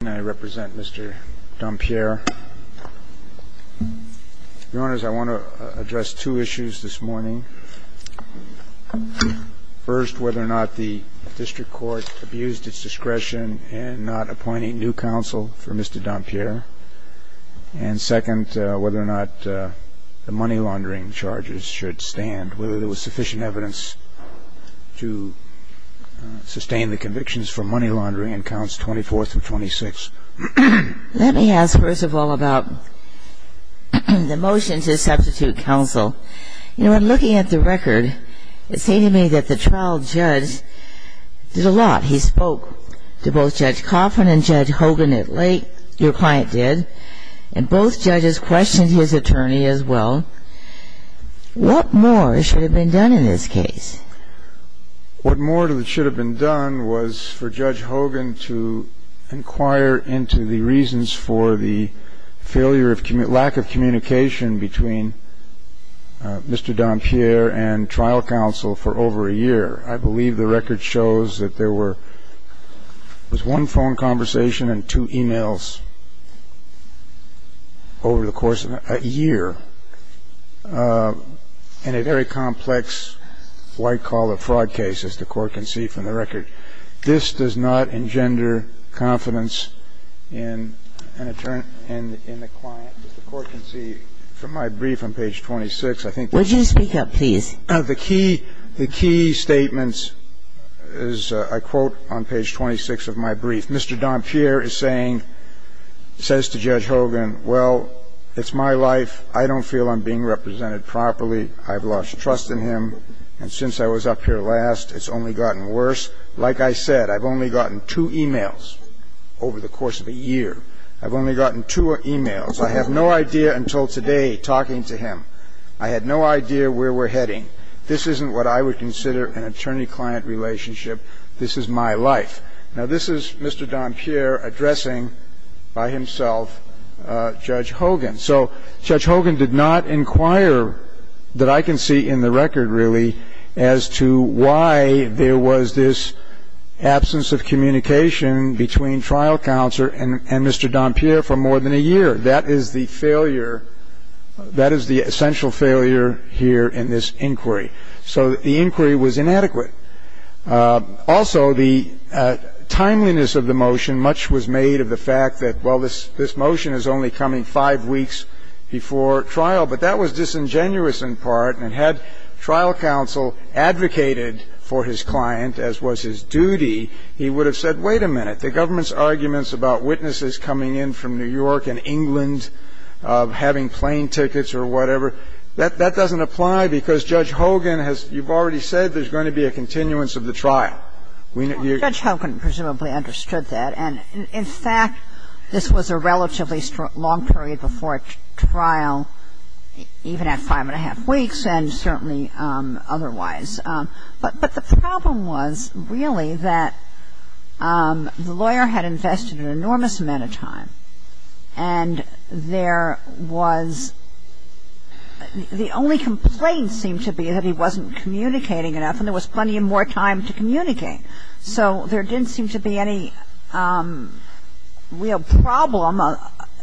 and I represent Mr. Dompier. Your Honors, I want to address two issues this morning. First, whether or not the district court abused its discretion in not appointing new counsel for Mr. Dompier. And second, whether or not the money laundering charges should stand, whether there was sufficient evidence to sustain the convictions for money laundering in counts 24th and 26th. Let me ask first of all about the motion to substitute counsel. You know, in looking at the record, it seemed to me that the trial judge did a lot. He spoke to both Judge Coffin and Judge Hogan at length. Your client did. And both judges questioned his attorney as well. What more should have been done in this case? What more should have been done was for Judge Coffin to inquire into the reasons for the failure of lack of communication between Mr. Dompier and trial counsel for over a year. I believe the record shows that there was one phone conversation and two e-mails over the course of a year in a very complex white-collar fraud case, as the Court can see from the record. This does not engender confidence in an attorney and in a client, as the Court can see from my brief on page 26, I think. Would you speak up, please? The key statements, as I quote on page 26 of my brief, Mr. Dompier is saying, says to Judge Hogan, well, it's my life. I don't feel I'm being represented properly. I've lost trust in him. And since I was up here last, it's only gotten worse. Like I said, I've only gotten two e-mails over the course of a year. I've only gotten two e-mails. I have no idea until today talking to him. I had no idea where we're heading. This isn't what I would consider an attorney-client relationship. This is my life. Now, this is Mr. Dompier addressing by himself Judge Hogan. So Judge Hogan did not inquire, that I can see in the record, really, as to why there was this absence of communication between trial counsel and Mr. Dompier for more than a year. That is the failure. That is the essential failure here in this inquiry. So the inquiry was inadequate. Also, the timeliness of the motion, much was made of the fact that, well, this motion is only coming five weeks before trial. But that was disingenuous in part. And had trial counsel advocated for his client, as was his duty, he would have said, wait a minute, the government's arguments about witnesses coming in from New York and England having plane tickets or whatever, that doesn't apply because Judge Hogan has, you've already said, there's going to be a continuance of the trial. Judge Hogan presumably understood that. And, in fact, this was a relatively long period before trial, even at five and a half weeks, and certainly otherwise. But the problem was, really, that the lawyer had invested an enormous amount of time, and there was the only complaint seemed to be that he wasn't communicating enough, and there was plenty more time to communicate. So there didn't seem to be any real problem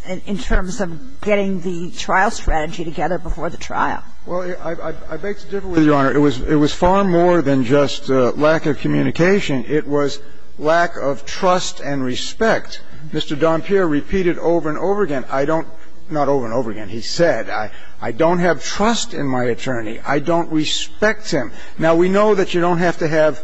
in terms of getting the trial strategy together before the trial. Well, I beg to differ, Your Honor. It was far more than just lack of communication. It was lack of trust and respect. Mr. Dompierre repeated over and over again, I don't – not over and over again. He said, I don't have trust in my attorney. I don't respect him. Now, we know that you don't have to have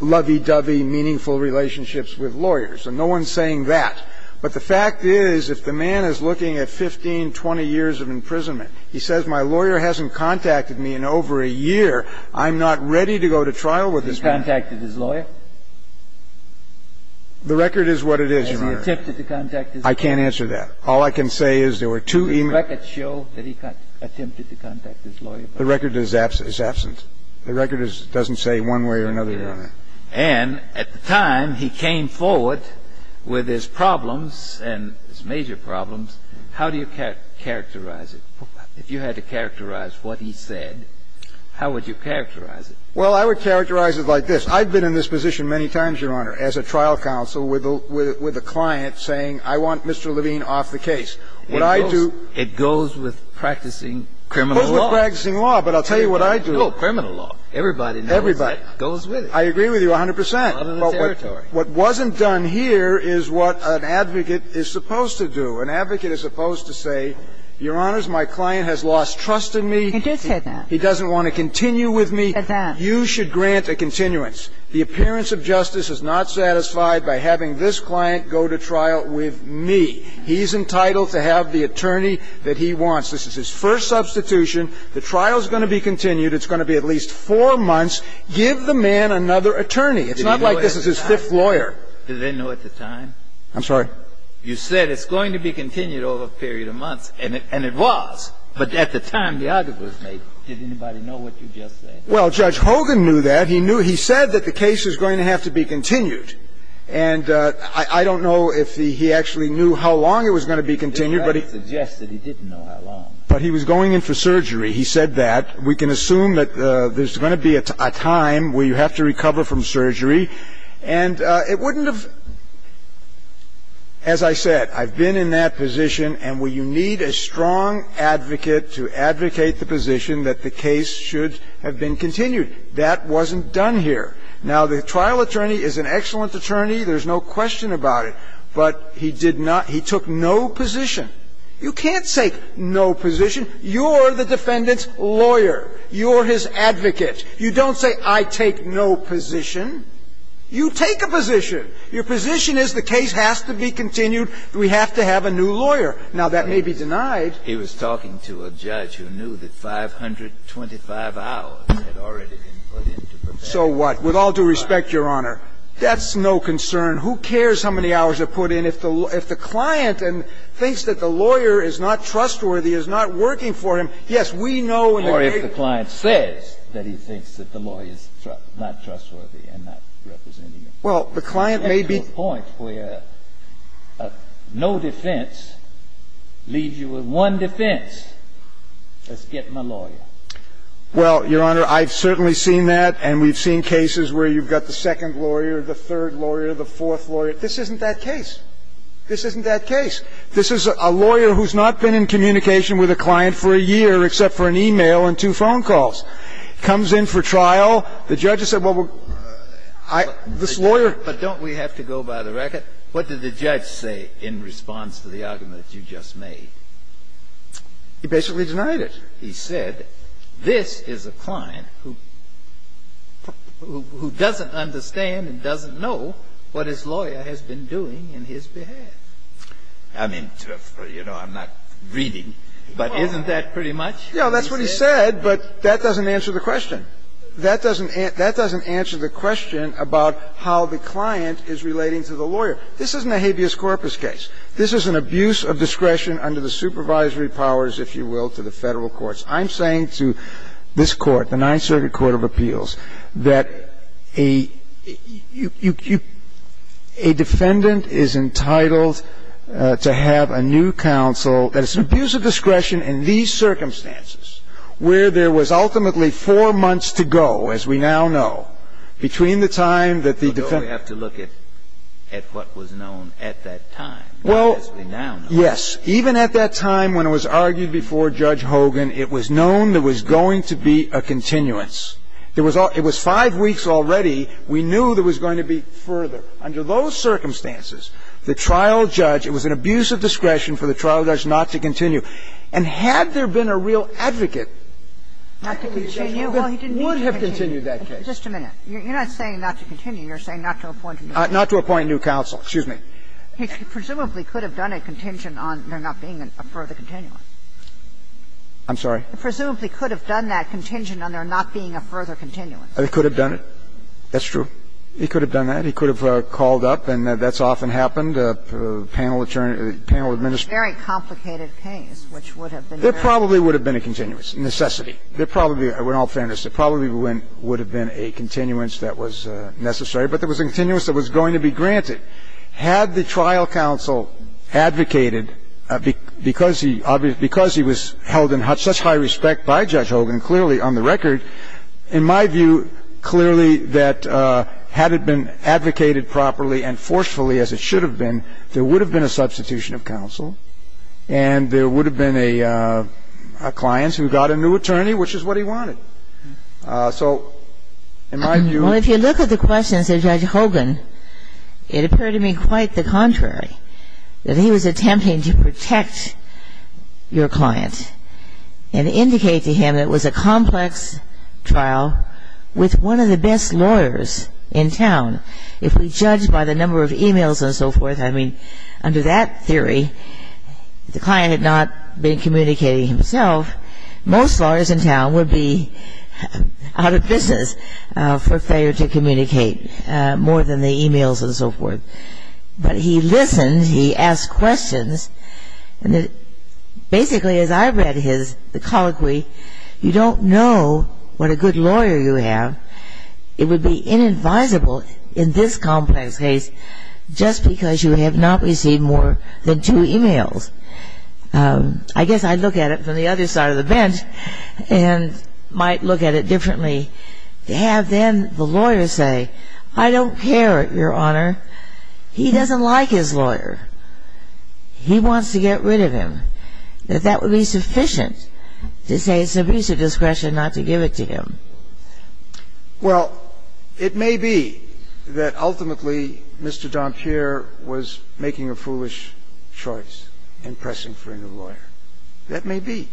lovey-dovey, meaningful relationships with lawyers, and no one's saying that. But the fact is, if the man is looking at 15, 20 years of imprisonment, he says, my lawyer hasn't contacted me in over a year, He's saying that he's in love with me. The record is that he has not contacted his lawyer. The record is what it is, Your Honor. Has he attempted to contact his lawyer? I can't answer that. All I can say is there were two emails – Did the record show that he attempted to contact his lawyer? The record is absent. The record doesn't say one way or another. And at the time, he came forward with his problems and his major problems. How do you characterize it? If you had to characterize what he said, how would you characterize it? Well, I would characterize it like this. I've been in this position many times, Your Honor, as a trial counsel with a client saying, I want Mr. Levine off the case. What I do – It goes with practicing criminal law. It goes with practicing law, but I'll tell you what I do – No, criminal law. Everybody knows that. Everybody. I agree with you 100 percent. Other than the territory. What wasn't done here is what an advocate is supposed to do. An advocate is supposed to say, Your Honor, my client has lost trust in me. He did say that. He doesn't want to continue with me. He said that. You should grant a continuance. The appearance of justice is not satisfied by having this client go to trial with me. He's entitled to have the attorney that he wants. This is his first substitution. The trial is going to be continued. It's going to be at least four months. Give the man another attorney. It's not like this is his fifth lawyer. Did they know at the time? I'm sorry? You said it's going to be continued over a period of months, and it was. But at the time the argument was made, did anybody know what you just said? Well, Judge Hogan knew that. He knew – he said that the case is going to have to be continued. And I don't know if he actually knew how long it was going to be continued, but he – Your Honor, he suggested he didn't know how long. But he was going in for surgery. He said that. We can assume that there's going to be a time where you have to recover from surgery. And it wouldn't have – as I said, I've been in that position, and you need a strong advocate to advocate the position that the case should have been continued. That wasn't done here. Now, the trial attorney is an excellent attorney. There's no question about it. But he did not – he took no position. You can't say no position. You're the defendant's lawyer. You're his advocate. You don't say, I take no position. You take a position. Your position is the case has to be continued. We have to have a new lawyer. Now, that may be denied. He was talking to a judge who knew that 525 hours had already been put in to prepare the client. So what? With all due respect, Your Honor, that's no concern. Who cares how many hours are put in? If the client thinks that the lawyer is not trustworthy, is not working for him, yes, we know in the case – Or if the client says that he thinks that the lawyer is not trustworthy and not representing him. Well, the client may be – To the point where no defense leaves you with one defense, let's get my lawyer. Well, Your Honor, I've certainly seen that, and we've seen cases where you've got the second lawyer, the third lawyer, the fourth lawyer. This isn't that case. This isn't that case. This is a lawyer who's not been in communication with a client for a year, except for an e-mail and two phone calls. Comes in for trial. The judge has said, well, this lawyer – But don't we have to go by the record? What did the judge say in response to the argument you just made? He basically denied it. He said, this is a client who doesn't understand and doesn't know what his lawyer has been doing in his behalf. I mean, you know, I'm not reading, but isn't that pretty much what he said? Yeah, that's what he said, but that doesn't answer the question. That doesn't answer the question about how the client is relating to the lawyer. This isn't a habeas corpus case. This is an abuse of discretion under the supervisory powers, if you will, to the Federal courts. I'm saying to this Court, the Ninth Circuit Court of Appeals, that a defendant is entitled to have a new counsel. That it's an abuse of discretion in these circumstances where there was ultimately four months to go, as we now know, between the time that the defendant – But don't we have to look at what was known at that time, as we now know? Yes. Even at that time when it was argued before Judge Hogan, it was known there was going to be a continuance. There was all – it was five weeks already. We knew there was going to be further. Under those circumstances, the trial judge – it was an abuse of discretion for the trial judge not to continue. And had there been a real advocate, Judge Hogan would have continued that case. Just a minute. You're not saying not to continue. You're saying not to appoint a new counsel. Not to appoint a new counsel. Excuse me. He presumably could have done a contingent on there not being a further continuance. I'm sorry? He presumably could have done that contingent on there not being a further continuance. He could have done it. That's true. He could have done that. He could have called up, and that's often happened. Panel attorney – panel administrator. It was a very complicated case, which would have been very complicated. There probably would have been a continuance. Necessity. There probably would have been, in all fairness, there probably would have been a continuance that was necessary. But there was a continuance that was going to be granted. Had the trial counsel advocated, because he – because he was held in such high respect by Judge Hogan, clearly, on the record, in my view, clearly that had it been advocated properly and forcefully as it should have been, there would have been a substitution of counsel, and there would have been a client who got a new attorney, which is what he wanted. So in my view – Under Judge Hogan, it appeared to me quite the contrary, that he was attempting to protect your client and indicate to him that it was a complex trial with one of the best lawyers in town. If we judge by the number of e-mails and so forth, I mean, under that theory, if the client had not been communicating himself, most lawyers in town would be out of business for failure to communicate more than the e-mails and so forth. But he listened, he asked questions, and basically, as I read his – the colloquy, you don't know what a good lawyer you have. It would be inadvisable in this complex case just because you have not received more than two e-mails. I guess I'd look at it from the other side of the bench and might look at it differently. And I think it would be very, very difficult for a lawyer to have, then, the lawyer say, I don't care, Your Honor, he doesn't like his lawyer, he wants to get rid of him, that that would be sufficient to say it's an abuse of discretion not to give it to him. Well, it may be that ultimately Mr. Don Pierre was making a foolish choice in pressing for a new lawyer. That may be.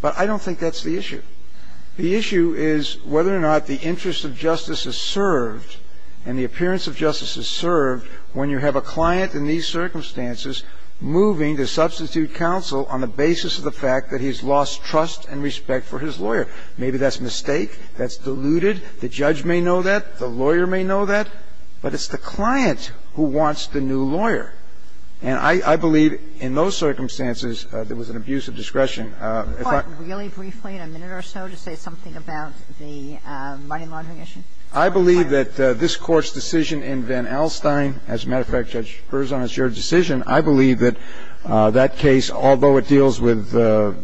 But I don't think that's the issue. The issue is whether or not the interest of justice is served and the appearance of justice is served when you have a client in these circumstances moving to substitute counsel on the basis of the fact that he's lost trust and respect for his lawyer. Maybe that's a mistake, that's diluted. The judge may know that, the lawyer may know that, but it's the client who wants the new lawyer. And I believe in those circumstances, there was an abuse of discretion. If I could really briefly, in a minute or so, to say something about the money laundering issue. I believe that this Court's decision in Van Alstyne, as a matter of fact, Judge Berzon, it's your decision, I believe that that case, although it deals with the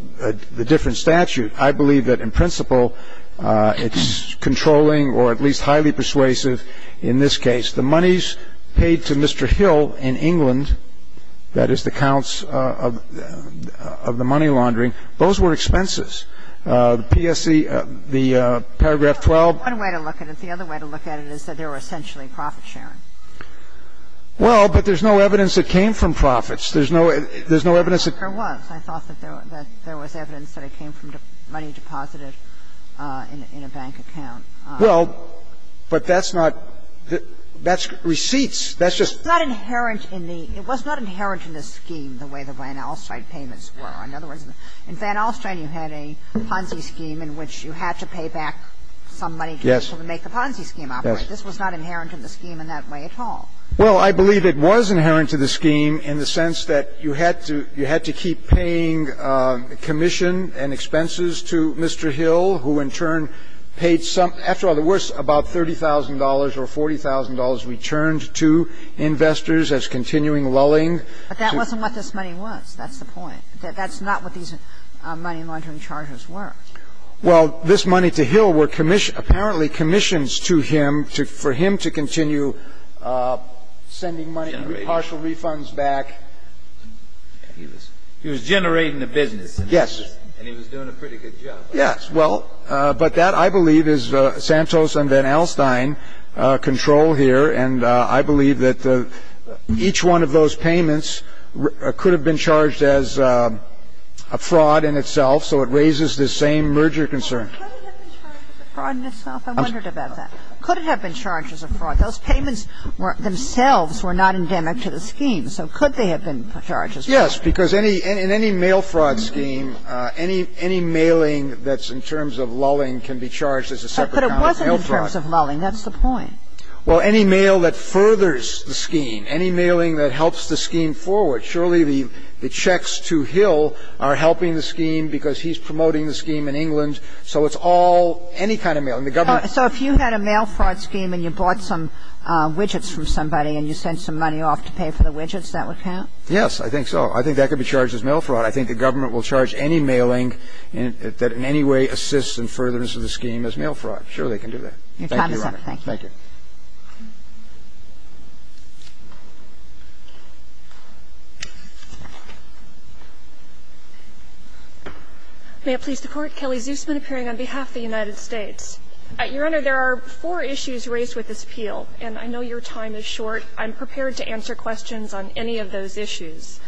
different statute, I believe that in principle, it's controlling or at least highly persuasive in this case. The money's paid to Mr. Hill in England, that is, the counts of the money laundering. Those were expenses. The PSC, the paragraph 12. One way to look at it, the other way to look at it is that they were essentially profit sharing. Well, but there's no evidence that came from profits. There's no evidence that came from profits. There was. I thought that there was evidence that it came from money deposited in a bank account. Well, but that's not the – that's receipts. That's just. It's not inherent in the – it was not inherent in the scheme the way the Van Alstyne payments were. In other words, in Van Alstyne, you had a Ponzi scheme in which you had to pay back some money to be able to make the Ponzi scheme operate. This was not inherent in the scheme in that way at all. Well, I believe it was inherent to the scheme in the sense that you had to keep paying commission and expenses to Mr. Hill, who in turn paid some – after all, it was about $30,000 or $40,000 returned to investors as continuing lulling. But that wasn't what this money was. That's the point. That's not what these money laundering charges were. Well, this money to Hill were apparently commissions to him for him to continue sending money, partial refunds back. He was generating the business. Yes. And he was doing a pretty good job. Yes. Well, but that, I believe, is Santos and Van Alstyne control here. And I believe that each one of those payments could have been charged as a fraud in itself, so it raises the same merger concern. Well, could it have been charged as a fraud in itself? I wondered about that. Could it have been charged as a fraud? Those payments themselves were not endemic to the scheme, so could they have been charged as fraud? Yes, because any – in any mail fraud scheme, any mailing that's in terms of lulling can be charged as a separate amount of mail fraud. But it wasn't in terms of lulling. That's the point. Well, any mail that furthers the scheme, any mailing that helps the scheme forward, surely the checks to Hill are helping the scheme because he's promoting the scheme in England. So it's all – any kind of mail. So if you had a mail fraud scheme and you bought some widgets from somebody and you paid some money off to pay for the widgets, that would count? Yes, I think so. I think that could be charged as mail fraud. I think the government will charge any mailing that in any way assists in furtherance of the scheme as mail fraud. Sure, they can do that. Thank you, Your Honor. Thank you. May it please the Court. Kelly Zusman appearing on behalf of the United States. Your Honor, there are four issues raised with this appeal, and I know your time is short. I'm prepared to answer questions on any of those issues.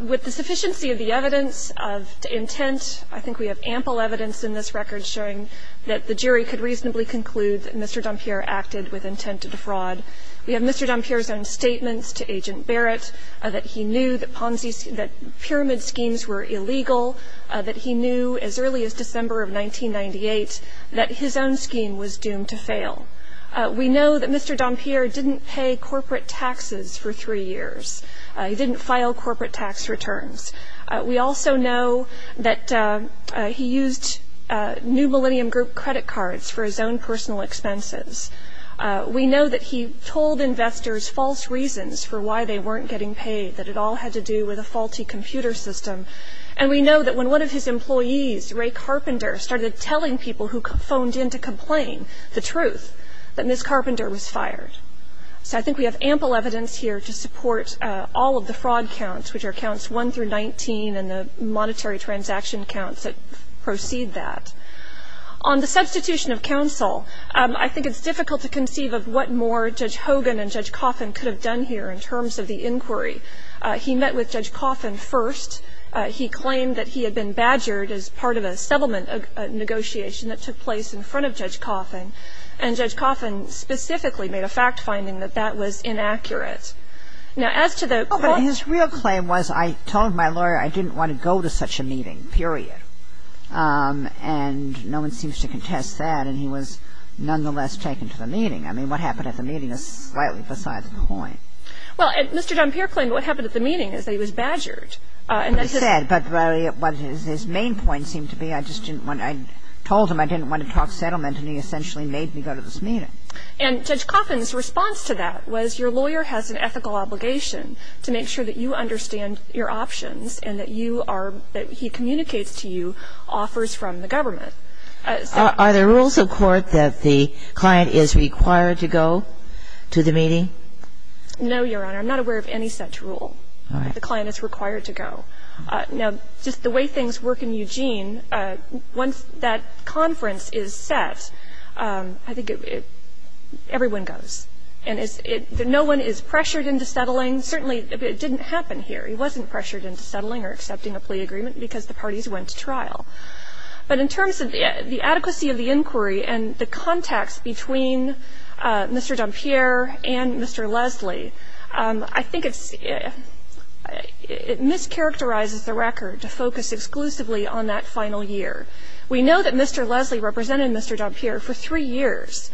With the sufficiency of the evidence of intent, I think we have ample evidence in this record showing that the jury could reasonably conclude that Mr. Dompier acted with intent to defraud. We have Mr. Dompier's own statements to Agent Barrett that he knew that Ponzi – that pyramid schemes were illegal, that he knew as early as December of 1998 that his own scheme was doomed to fail. We know that Mr. Dompier didn't pay corporate taxes for three years. He didn't file corporate tax returns. We also know that he used New Millennium Group credit cards for his own personal expenses. We know that he told investors false reasons for why they weren't getting paid, that it all had to do with a faulty computer system. And we know that when one of his employees, Ray Carpenter, started telling people who phoned in to complain the truth, that Ms. Carpenter was fired. So I think we have ample evidence here to support all of the fraud counts, which are counts 1 through 19 and the monetary transaction counts that proceed that. On the substitution of counsel, I think it's difficult to conceive of what more Judge Hogan and Judge Coffin could have done here in terms of the inquiry. He met with Judge Coffin first. He claimed that he had been badgered as part of a settlement negotiation that took place in front of Judge Coffin. And Judge Coffin specifically made a fact-finding that that was inaccurate. Now, as to the court ---- But his real claim was, I told my lawyer I didn't want to go to such a meeting, period. And no one seems to contest that. And he was nonetheless taken to the meeting. I mean, what happened at the meeting is slightly besides the point. Well, Mr. Dompier claimed what happened at the meeting is that he was badgered. And that's just ---- He said. But his main point seemed to be, I just didn't want to ---- I told him I didn't want to talk settlement, and he essentially made me go to this meeting. And Judge Coffin's response to that was, your lawyer has an ethical obligation to make sure that you understand your options and that you are ---- that he communicates to you offers from the government. Are there rules of court that the client is required to go to the meeting? No, Your Honor. I'm not aware of any such rule. All right. The client is required to go. Now, just the way things work in Eugene, once that conference is set, I think it ---- everyone goes. And it's ---- no one is pressured into settling. Certainly, it didn't happen here. He wasn't pressured into settling or accepting a plea agreement because the parties went to trial. But in terms of the adequacy of the inquiry and the context between Mr. Dompier and Mr. Leslie, I think it's ---- it mischaracterizes the record to focus exclusively on that final year. We know that Mr. Leslie represented Mr. Dompier for three years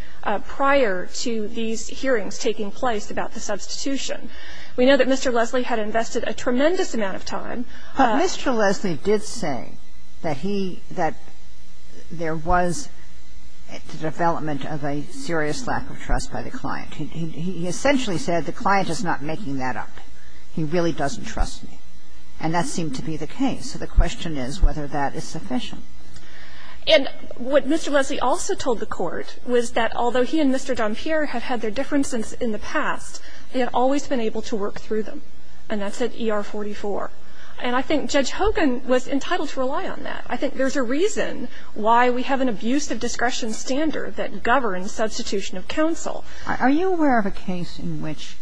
prior to these hearings taking place about the substitution. We know that Mr. Leslie had invested a tremendous amount of time. But Mr. Leslie did say that he ---- that there was the development of a serious lack of trust by the client. He essentially said the client is not making that up. He really doesn't trust me. And that seemed to be the case. So the question is whether that is sufficient. And what Mr. Leslie also told the Court was that although he and Mr. Dompier have had their differences in the past, he had always been able to work through them. And that's at ER44. And I think Judge Hogan was entitled to rely on that. I think there's a reason why we have an abuse of discretion standard that governs the institution of counsel. Are you aware of a case in which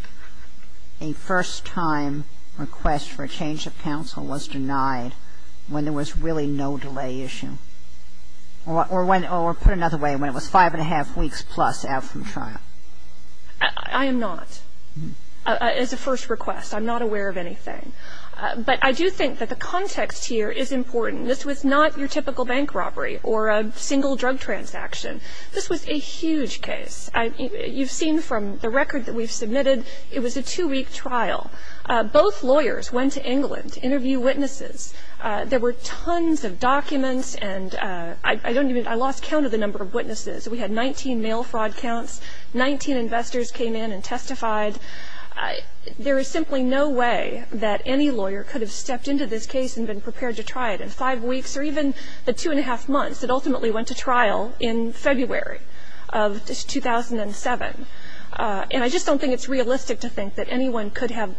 a first-time request for a change of counsel was denied when there was really no delay issue? Or when ---- or put another way, when it was five and a half weeks plus out from trial? I am not. As a first request, I'm not aware of anything. But I do think that the context here is important. This was not your typical bank robbery or a single drug transaction. This was a huge case. You've seen from the record that we've submitted, it was a two-week trial. Both lawyers went to England to interview witnesses. There were tons of documents. And I don't even ---- I lost count of the number of witnesses. We had 19 mail fraud counts. Nineteen investors came in and testified. There is simply no way that any lawyer could have stepped into this case and been prepared to try it in five weeks or even the two and a half months that ultimately went to trial in February of 2007. And I just don't think it's realistic to think that anyone could have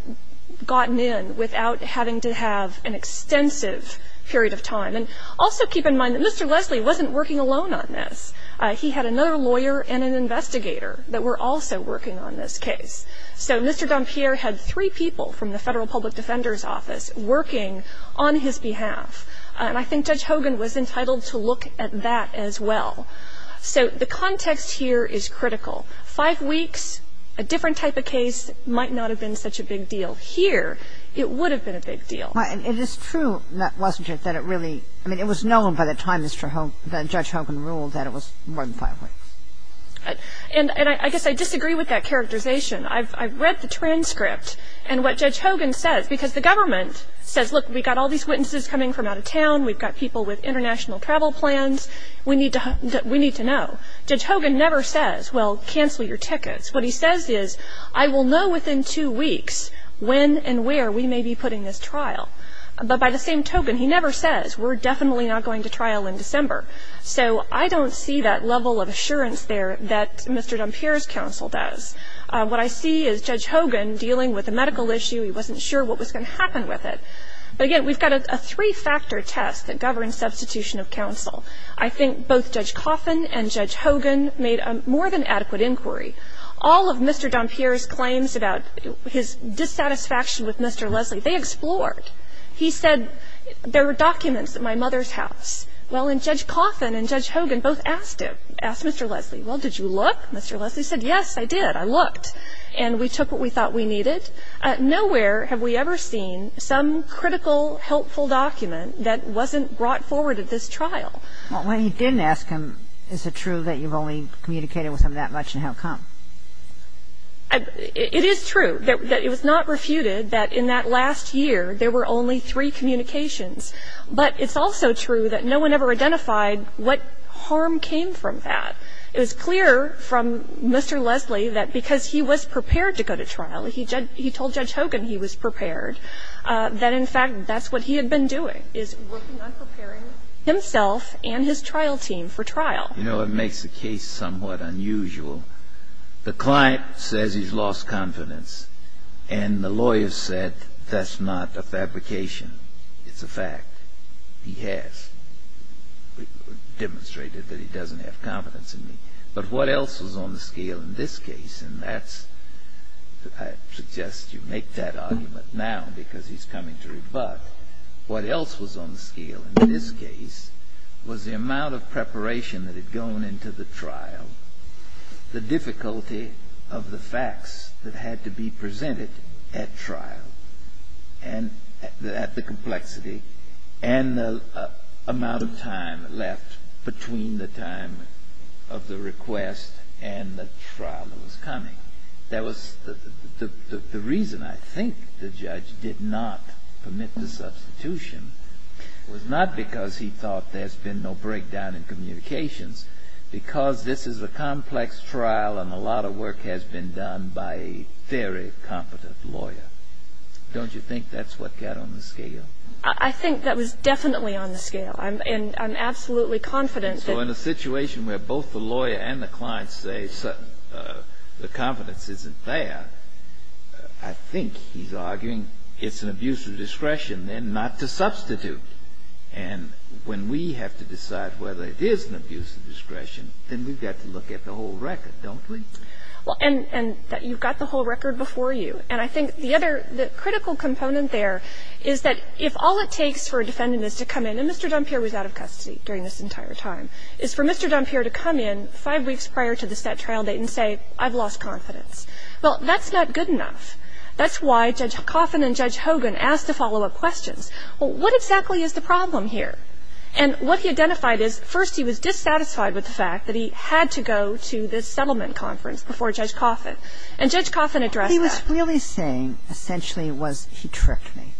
gotten in without having to have an extensive period of time. And also keep in mind that Mr. Leslie wasn't working alone on this. He had another lawyer and an investigator that were also working on this case. So Mr. Dompierre had three people from the Federal Public Defender's Office working on his behalf. And I think Judge Hogan was entitled to look at that as well. So the context here is critical. Five weeks, a different type of case might not have been such a big deal. Here, it would have been a big deal. And it is true, wasn't it, that it really ---- I mean, it was known by the time that Judge Hogan ruled that it was more than five weeks. And I guess I disagree with that characterization. I've read the transcript. And what Judge Hogan says, because the government says, look, we've got all these witnesses coming from out of town. We've got people with international travel plans. We need to know. Judge Hogan never says, well, cancel your tickets. What he says is, I will know within two weeks when and where we may be putting this trial. But by the same token, he never says, we're definitely not going to trial in December. So I don't see that level of assurance there that Mr. Dompierre's counsel does. What I see is Judge Hogan dealing with a medical issue. He wasn't sure what was going to happen with it. But again, we've got a three-factor test that governs substitution of counsel. I think both Judge Coffin and Judge Hogan made a more than adequate inquiry. All of Mr. Dompierre's claims about his dissatisfaction with Mr. Leslie, they explored. He said, there were documents at my mother's house. Well, and Judge Coffin and Judge Hogan both asked him, asked Mr. Leslie, well, did you look? Mr. Leslie said, yes, I did. I looked. And we took what we thought we needed. Nowhere have we ever seen some critical, helpful document that wasn't brought forward at this trial. Well, when you didn't ask him, is it true that you've only communicated with him that much, and how come? It is true that it was not refuted that in that last year, there were only three communications. But it's also true that no one ever identified what harm came from that. It was clear from Mr. Leslie that because he was prepared to go to trial, he judged that he told Judge Hogan he was prepared, that in fact, that's what he had been doing, is working on preparing himself and his trial team for trial. You know, it makes the case somewhat unusual. The client says he's lost confidence, and the lawyer said, that's not a fabrication. It's a fact. He has demonstrated that he doesn't have confidence in me. But what else was on the scale in this case? And that's why I suggest you make that argument now, because he's coming to rebut. What else was on the scale in this case was the amount of preparation that had gone into the trial, the difficulty of the facts that had to be presented at trial, and at the complexity, and the amount of time left between the time of the request and the trial that was coming. The reason I think the judge did not permit the substitution was not because he thought there's been no breakdown in communications, because this is a complex trial, and a lot of work has been done by a very competent lawyer. Don't you think that's what got on the scale? I think that was definitely on the scale, and I'm absolutely confident that So in a situation where both the lawyer and the client say the confidence isn't there, I think he's arguing it's an abuse of discretion, then, not to substitute. And when we have to decide whether it is an abuse of discretion, then we've got to look at the whole record, don't we? Well, and you've got the whole record before you. And I think the other critical component there is that if all it takes for a defendant to come in, and Mr. Dunpierre was out of custody during this entire time, is for Mr. Dunpierre to come in five weeks prior to the set trial date and say, I've lost confidence. Well, that's not good enough. That's why Judge Coffin and Judge Hogan asked the follow-up questions. Well, what exactly is the problem here? And what he identified is, first, he was dissatisfied with the fact that he had to go to this settlement conference before Judge Coffin. And Judge Coffin addressed that. And what he was really saying, essentially, was he tricked me.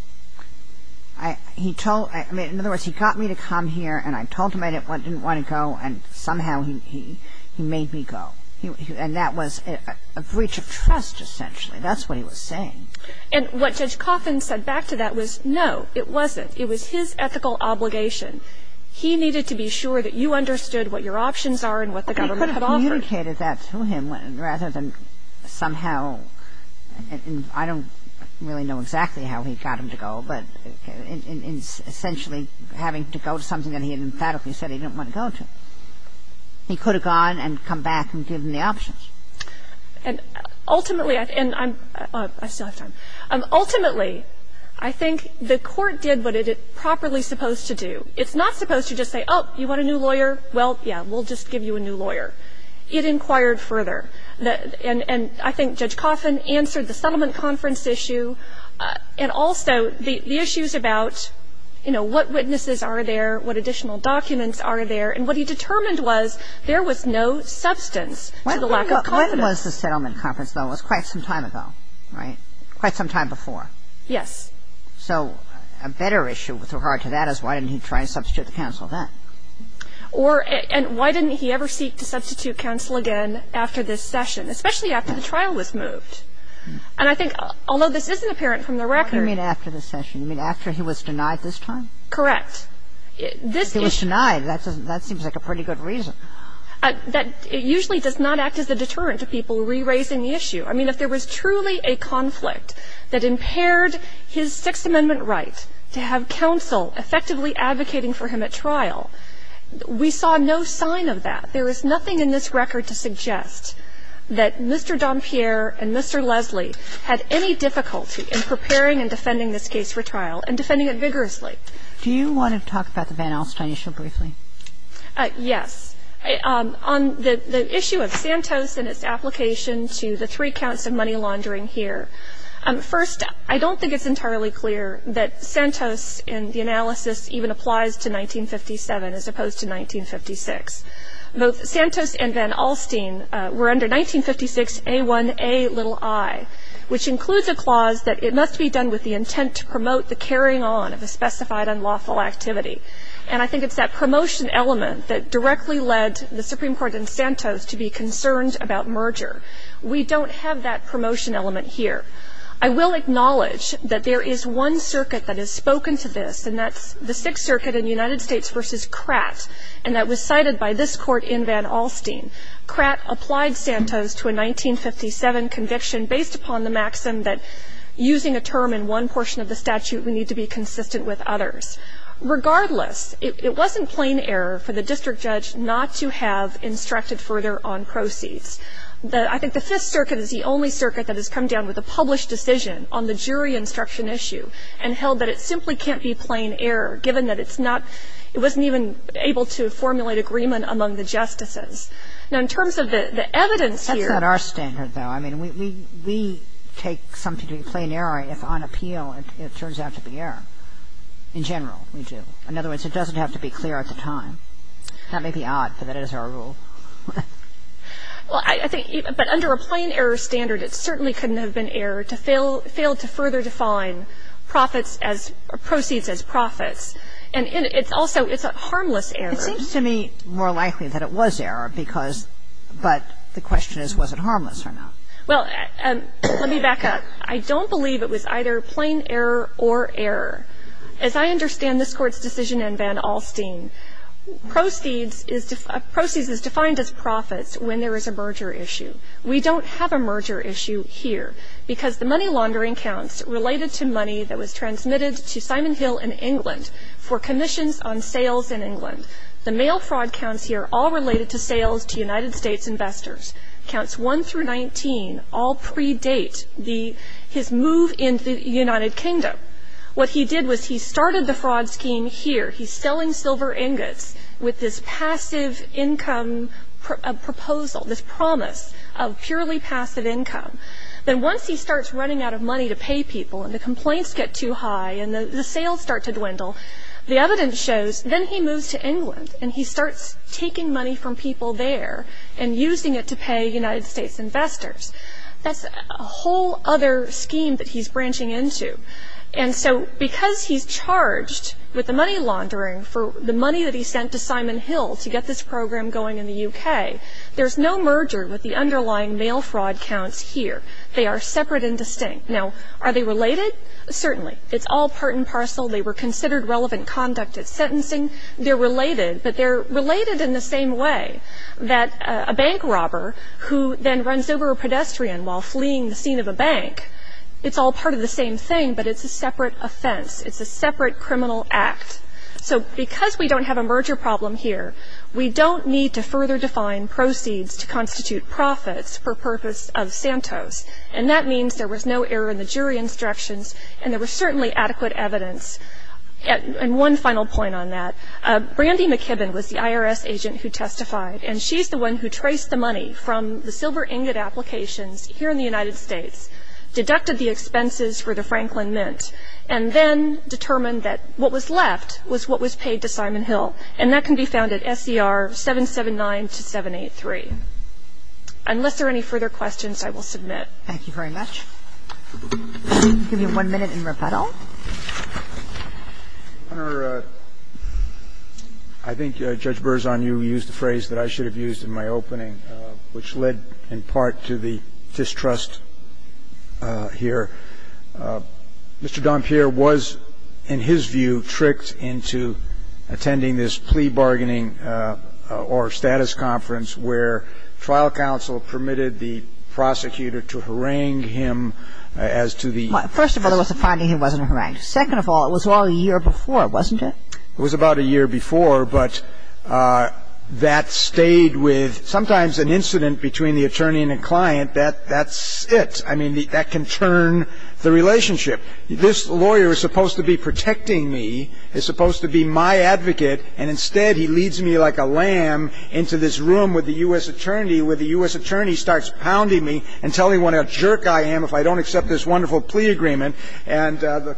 He told me he got me to come here, and I told him I didn't want to go, and somehow he made me go. And that was a breach of trust, essentially. That's what he was saying. And what Judge Coffin said back to that was, no, it wasn't. It was his ethical obligation. He needed to be sure that you understood what your options are and what the government had offered. And he communicated that to him rather than somehow – and I don't really know exactly how he got him to go, but essentially having to go to something that he had emphatically said he didn't want to go to. He could have gone and come back and given the options. And ultimately – and I'm – I still have time. Ultimately, I think the court did what it is properly supposed to do. It's not supposed to just say, oh, you want a new lawyer? Well, yeah, we'll just give you a new lawyer. It inquired further. And I think Judge Coffin answered the settlement conference issue, and also the issues about, you know, what witnesses are there, what additional documents are there. And what he determined was there was no substance to the lack of confidence. When was the settlement conference, though? It was quite some time ago, right, quite some time before. Yes. So a better issue with regard to that is why didn't he try and substitute the counsel then? Or – and why didn't he ever seek to substitute counsel again after this session, especially after the trial was moved? And I think, although this isn't apparent from the record – What do you mean after the session? You mean after he was denied this time? Correct. This issue – If he was denied, that seems like a pretty good reason. That – it usually does not act as a deterrent to people re-raising the issue. I mean, if there was truly a conflict that impaired his Sixth Amendment right to have trial, we saw no sign of that. There is nothing in this record to suggest that Mr. Dompierre and Mr. Leslie had any difficulty in preparing and defending this case for trial, and defending it vigorously. Do you want to talk about the Van Alstyne issue briefly? Yes. On the issue of Santos and its application to the three counts of money laundering here, first, I don't think it's entirely clear that Santos in the analysis even applies to 1957 as opposed to 1956. Both Santos and Van Alstyne were under 1956A1Ai, which includes a clause that it must be done with the intent to promote the carrying on of a specified unlawful activity. And I think it's that promotion element that directly led the Supreme Court and Santos to be concerned about merger. We don't have that promotion element here. I will acknowledge that there is one circuit that has spoken to this, and that's the United States v. Kratt, and that was cited by this Court in Van Alstyne. Kratt applied Santos to a 1957 conviction based upon the maxim that using a term in one portion of the statute, we need to be consistent with others. Regardless, it wasn't plain error for the district judge not to have instructed further on proceeds. I think the Fifth Circuit is the only circuit that has come down with a published decision on the jury instruction issue, and held that it simply can't be plain error, given that it's not — it wasn't even able to formulate agreement among the justices. Now, in terms of the evidence here — That's not our standard, though. I mean, we take something to be plain error if, on appeal, it turns out to be error. In general, we do. In other words, it doesn't have to be clear at the time. That may be odd, but that is our rule. Well, I think — but under a plain error standard, it certainly couldn't have been error to fail to further define profits as — proceeds as profits. And it's also — it's a harmless error. It seems to me more likely that it was error because — but the question is, was it harmless or not? Well, let me back up. I don't believe it was either plain error or error. As I understand this Court's decision in Van Alstine, proceeds is — proceeds is defined as profits when there is a merger issue. We don't have a merger issue here, because the money laundering counts related to money that was transmitted to Simon Hill in England for commissions on sales in England. The mail fraud counts here all related to sales to United States investors. Counts 1 through 19 all predate the — his move into the United Kingdom. What he did was he started the fraud scheme here. He's selling silver ingots with this passive income proposal, this promise of purely passive income. Then once he starts running out of money to pay people and the complaints get too high and the sales start to dwindle, the evidence shows then he moves to England and he starts taking money from people there and using it to pay United States investors. That's a whole other scheme that he's branching into. And so because he's charged with the money laundering for the money that he sent to Simon Hill to get this program going in the U.K., there's no merger with the underlying mail fraud counts here. They are separate and distinct. Now, are they related? Certainly. It's all part and parcel. They were considered relevant conduct at sentencing. They're related, but they're related in the same way that a bank robber who then runs over a pedestrian while fleeing the scene of a bank, it's all part of the same thing, but it's a separate offense. It's a separate criminal act. So because we don't have a merger problem here, we don't need to further define proceeds to constitute profits for purpose of Santos, and that means there was no error in the jury instructions and there was certainly adequate evidence. And one final point on that, Brandy McKibbin was the IRS agent who testified, and she's the one who traced the money from the silver ingot applications here in the United States, deducted the expenses for the Franklin Mint, and then determined that what was left was what was paid to Simon Hill, and that can be found at SCR-779-783. Unless there are any further questions, I will submit. Thank you very much. We'll give you one minute in rebuttal. Your Honor, I think Judge Berzon, you used a phrase that I should have used in my opening, which led in part to the distrust here. Mr. Dompier was, in his view, tricked into attending this plea bargaining or status conference where trial counsel permitted the prosecutor to harangue him as to the ---- Well, first of all, there was a finding he wasn't harangued. Second of all, it was all a year before, wasn't it? It was about a year before, but that stayed with ---- sometimes an incident between the attorney and the client, that's it. I mean, that can turn the relationship. This lawyer is supposed to be protecting me, is supposed to be my advocate, and instead he leads me like a lamb into this room with the U.S. attorney, where the U.S. attorney starts pounding me and telling what a jerk I am if I don't accept this wonderful plea agreement, and the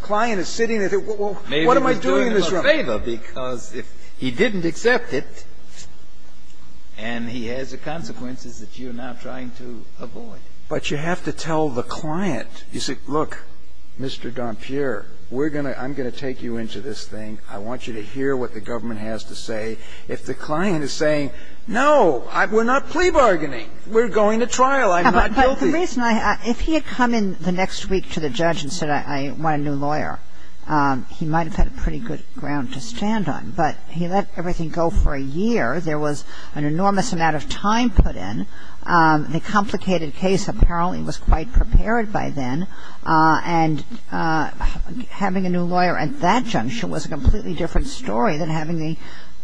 client is sitting there, what am I doing in this room? Maybe he was doing him a favor, because if he didn't accept it, and he has the consequences that you're now trying to avoid. But you have to tell the client, you say, look, Mr. Dompierre, we're going to ---- I'm going to take you into this thing. I want you to hear what the government has to say. If the client is saying, no, we're not plea bargaining, we're going to trial, I'm not guilty. But the reason I ---- if he had come in the next week to the judge and said, I want a new lawyer, he might have had a pretty good ground to stand on. But he let everything go for a year. There was an enormous amount of time put in. The complicated case apparently was quite prepared by then, and having a new lawyer at that juncture was a completely different story than having a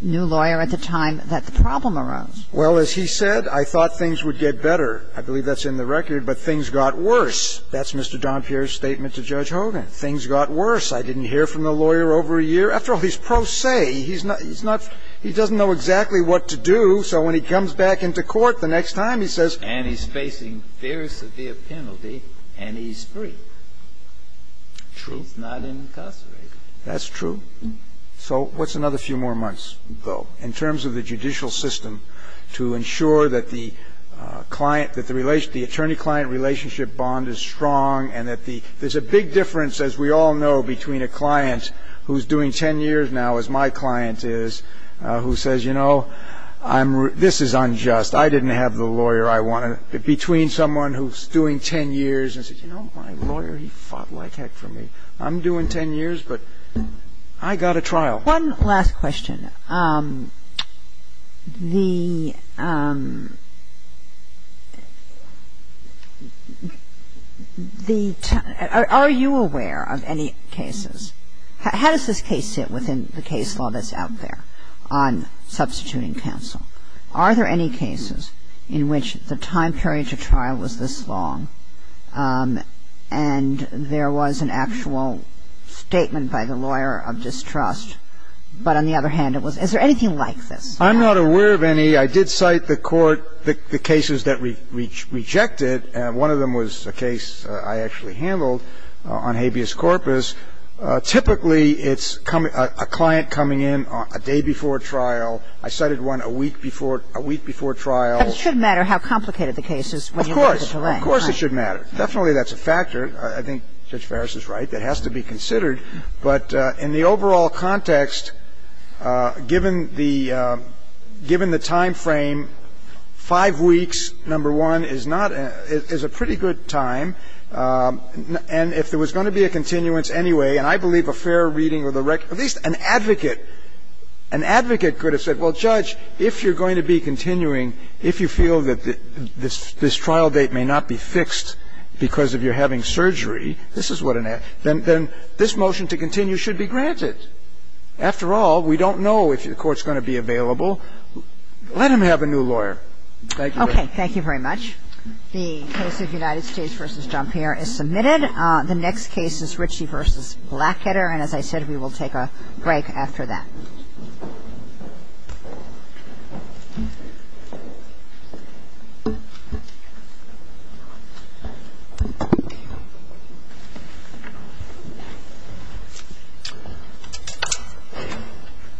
new lawyer at the time that the problem arose. Well, as he said, I thought things would get better. I believe that's in the record, but things got worse. That's Mr. Dompierre's statement to Judge Hogan. Things got worse. I didn't hear from the lawyer over a year. After all, he's pro se. He's not ---- he doesn't know exactly what to do, so when he comes back into court the next time, he says ---- And he's facing very severe penalty, and he's free. True. He's not incarcerated. That's true. So what's another few more months, though, in terms of the judicial system to ensure that the client ---- that the attorney-client relationship bond is strong and that the ---- there's a big difference, as we all know, between a client who's doing 10 years now, as my client is, who says, you know, I'm ---- this is unjust. I didn't have the lawyer I wanted. Between someone who's doing 10 years and says, you know, my lawyer, he fought like heck for me. I'm doing 10 years, but I got a trial. One last question. The ---- are you aware of any cases? How does this case sit within the case law that's out there on substituting counsel? Are there any cases in which the time period to trial was this long, and there was an actual statement by the lawyer of distrust, but on the other hand, it was ---- is there anything like this? I'm not aware of any. I did cite the court the cases that we rejected, and one of them was a case I actually handled on habeas corpus. Typically, it's a client coming in a day before trial. I cited one a week before ---- a week before trial. But it should matter how complicated the case is when you look at the delay. Of course. Of course it should matter. Definitely that's a factor. I think Judge Farris is right. It has to be considered. But in the overall context, given the ---- given the time frame, five weeks, number one, is not a ---- is a pretty good time. And if there was going to be a continuance anyway, and I believe a fair reading of the record ---- at least an advocate, an advocate could have said, well, Judge, if you're going to be continuing, if you feel that this trial date may not be fixed because of your having surgery, this is what an ---- then this motion to continue should be granted. After all, we don't know if the court's going to be available. Let him have a new lawyer. Thank you. Okay. Thank you very much. The case of United States v. Jumper is submitted. The next case is Ritchie v. Blackheader. And as I said, we will take a break after that.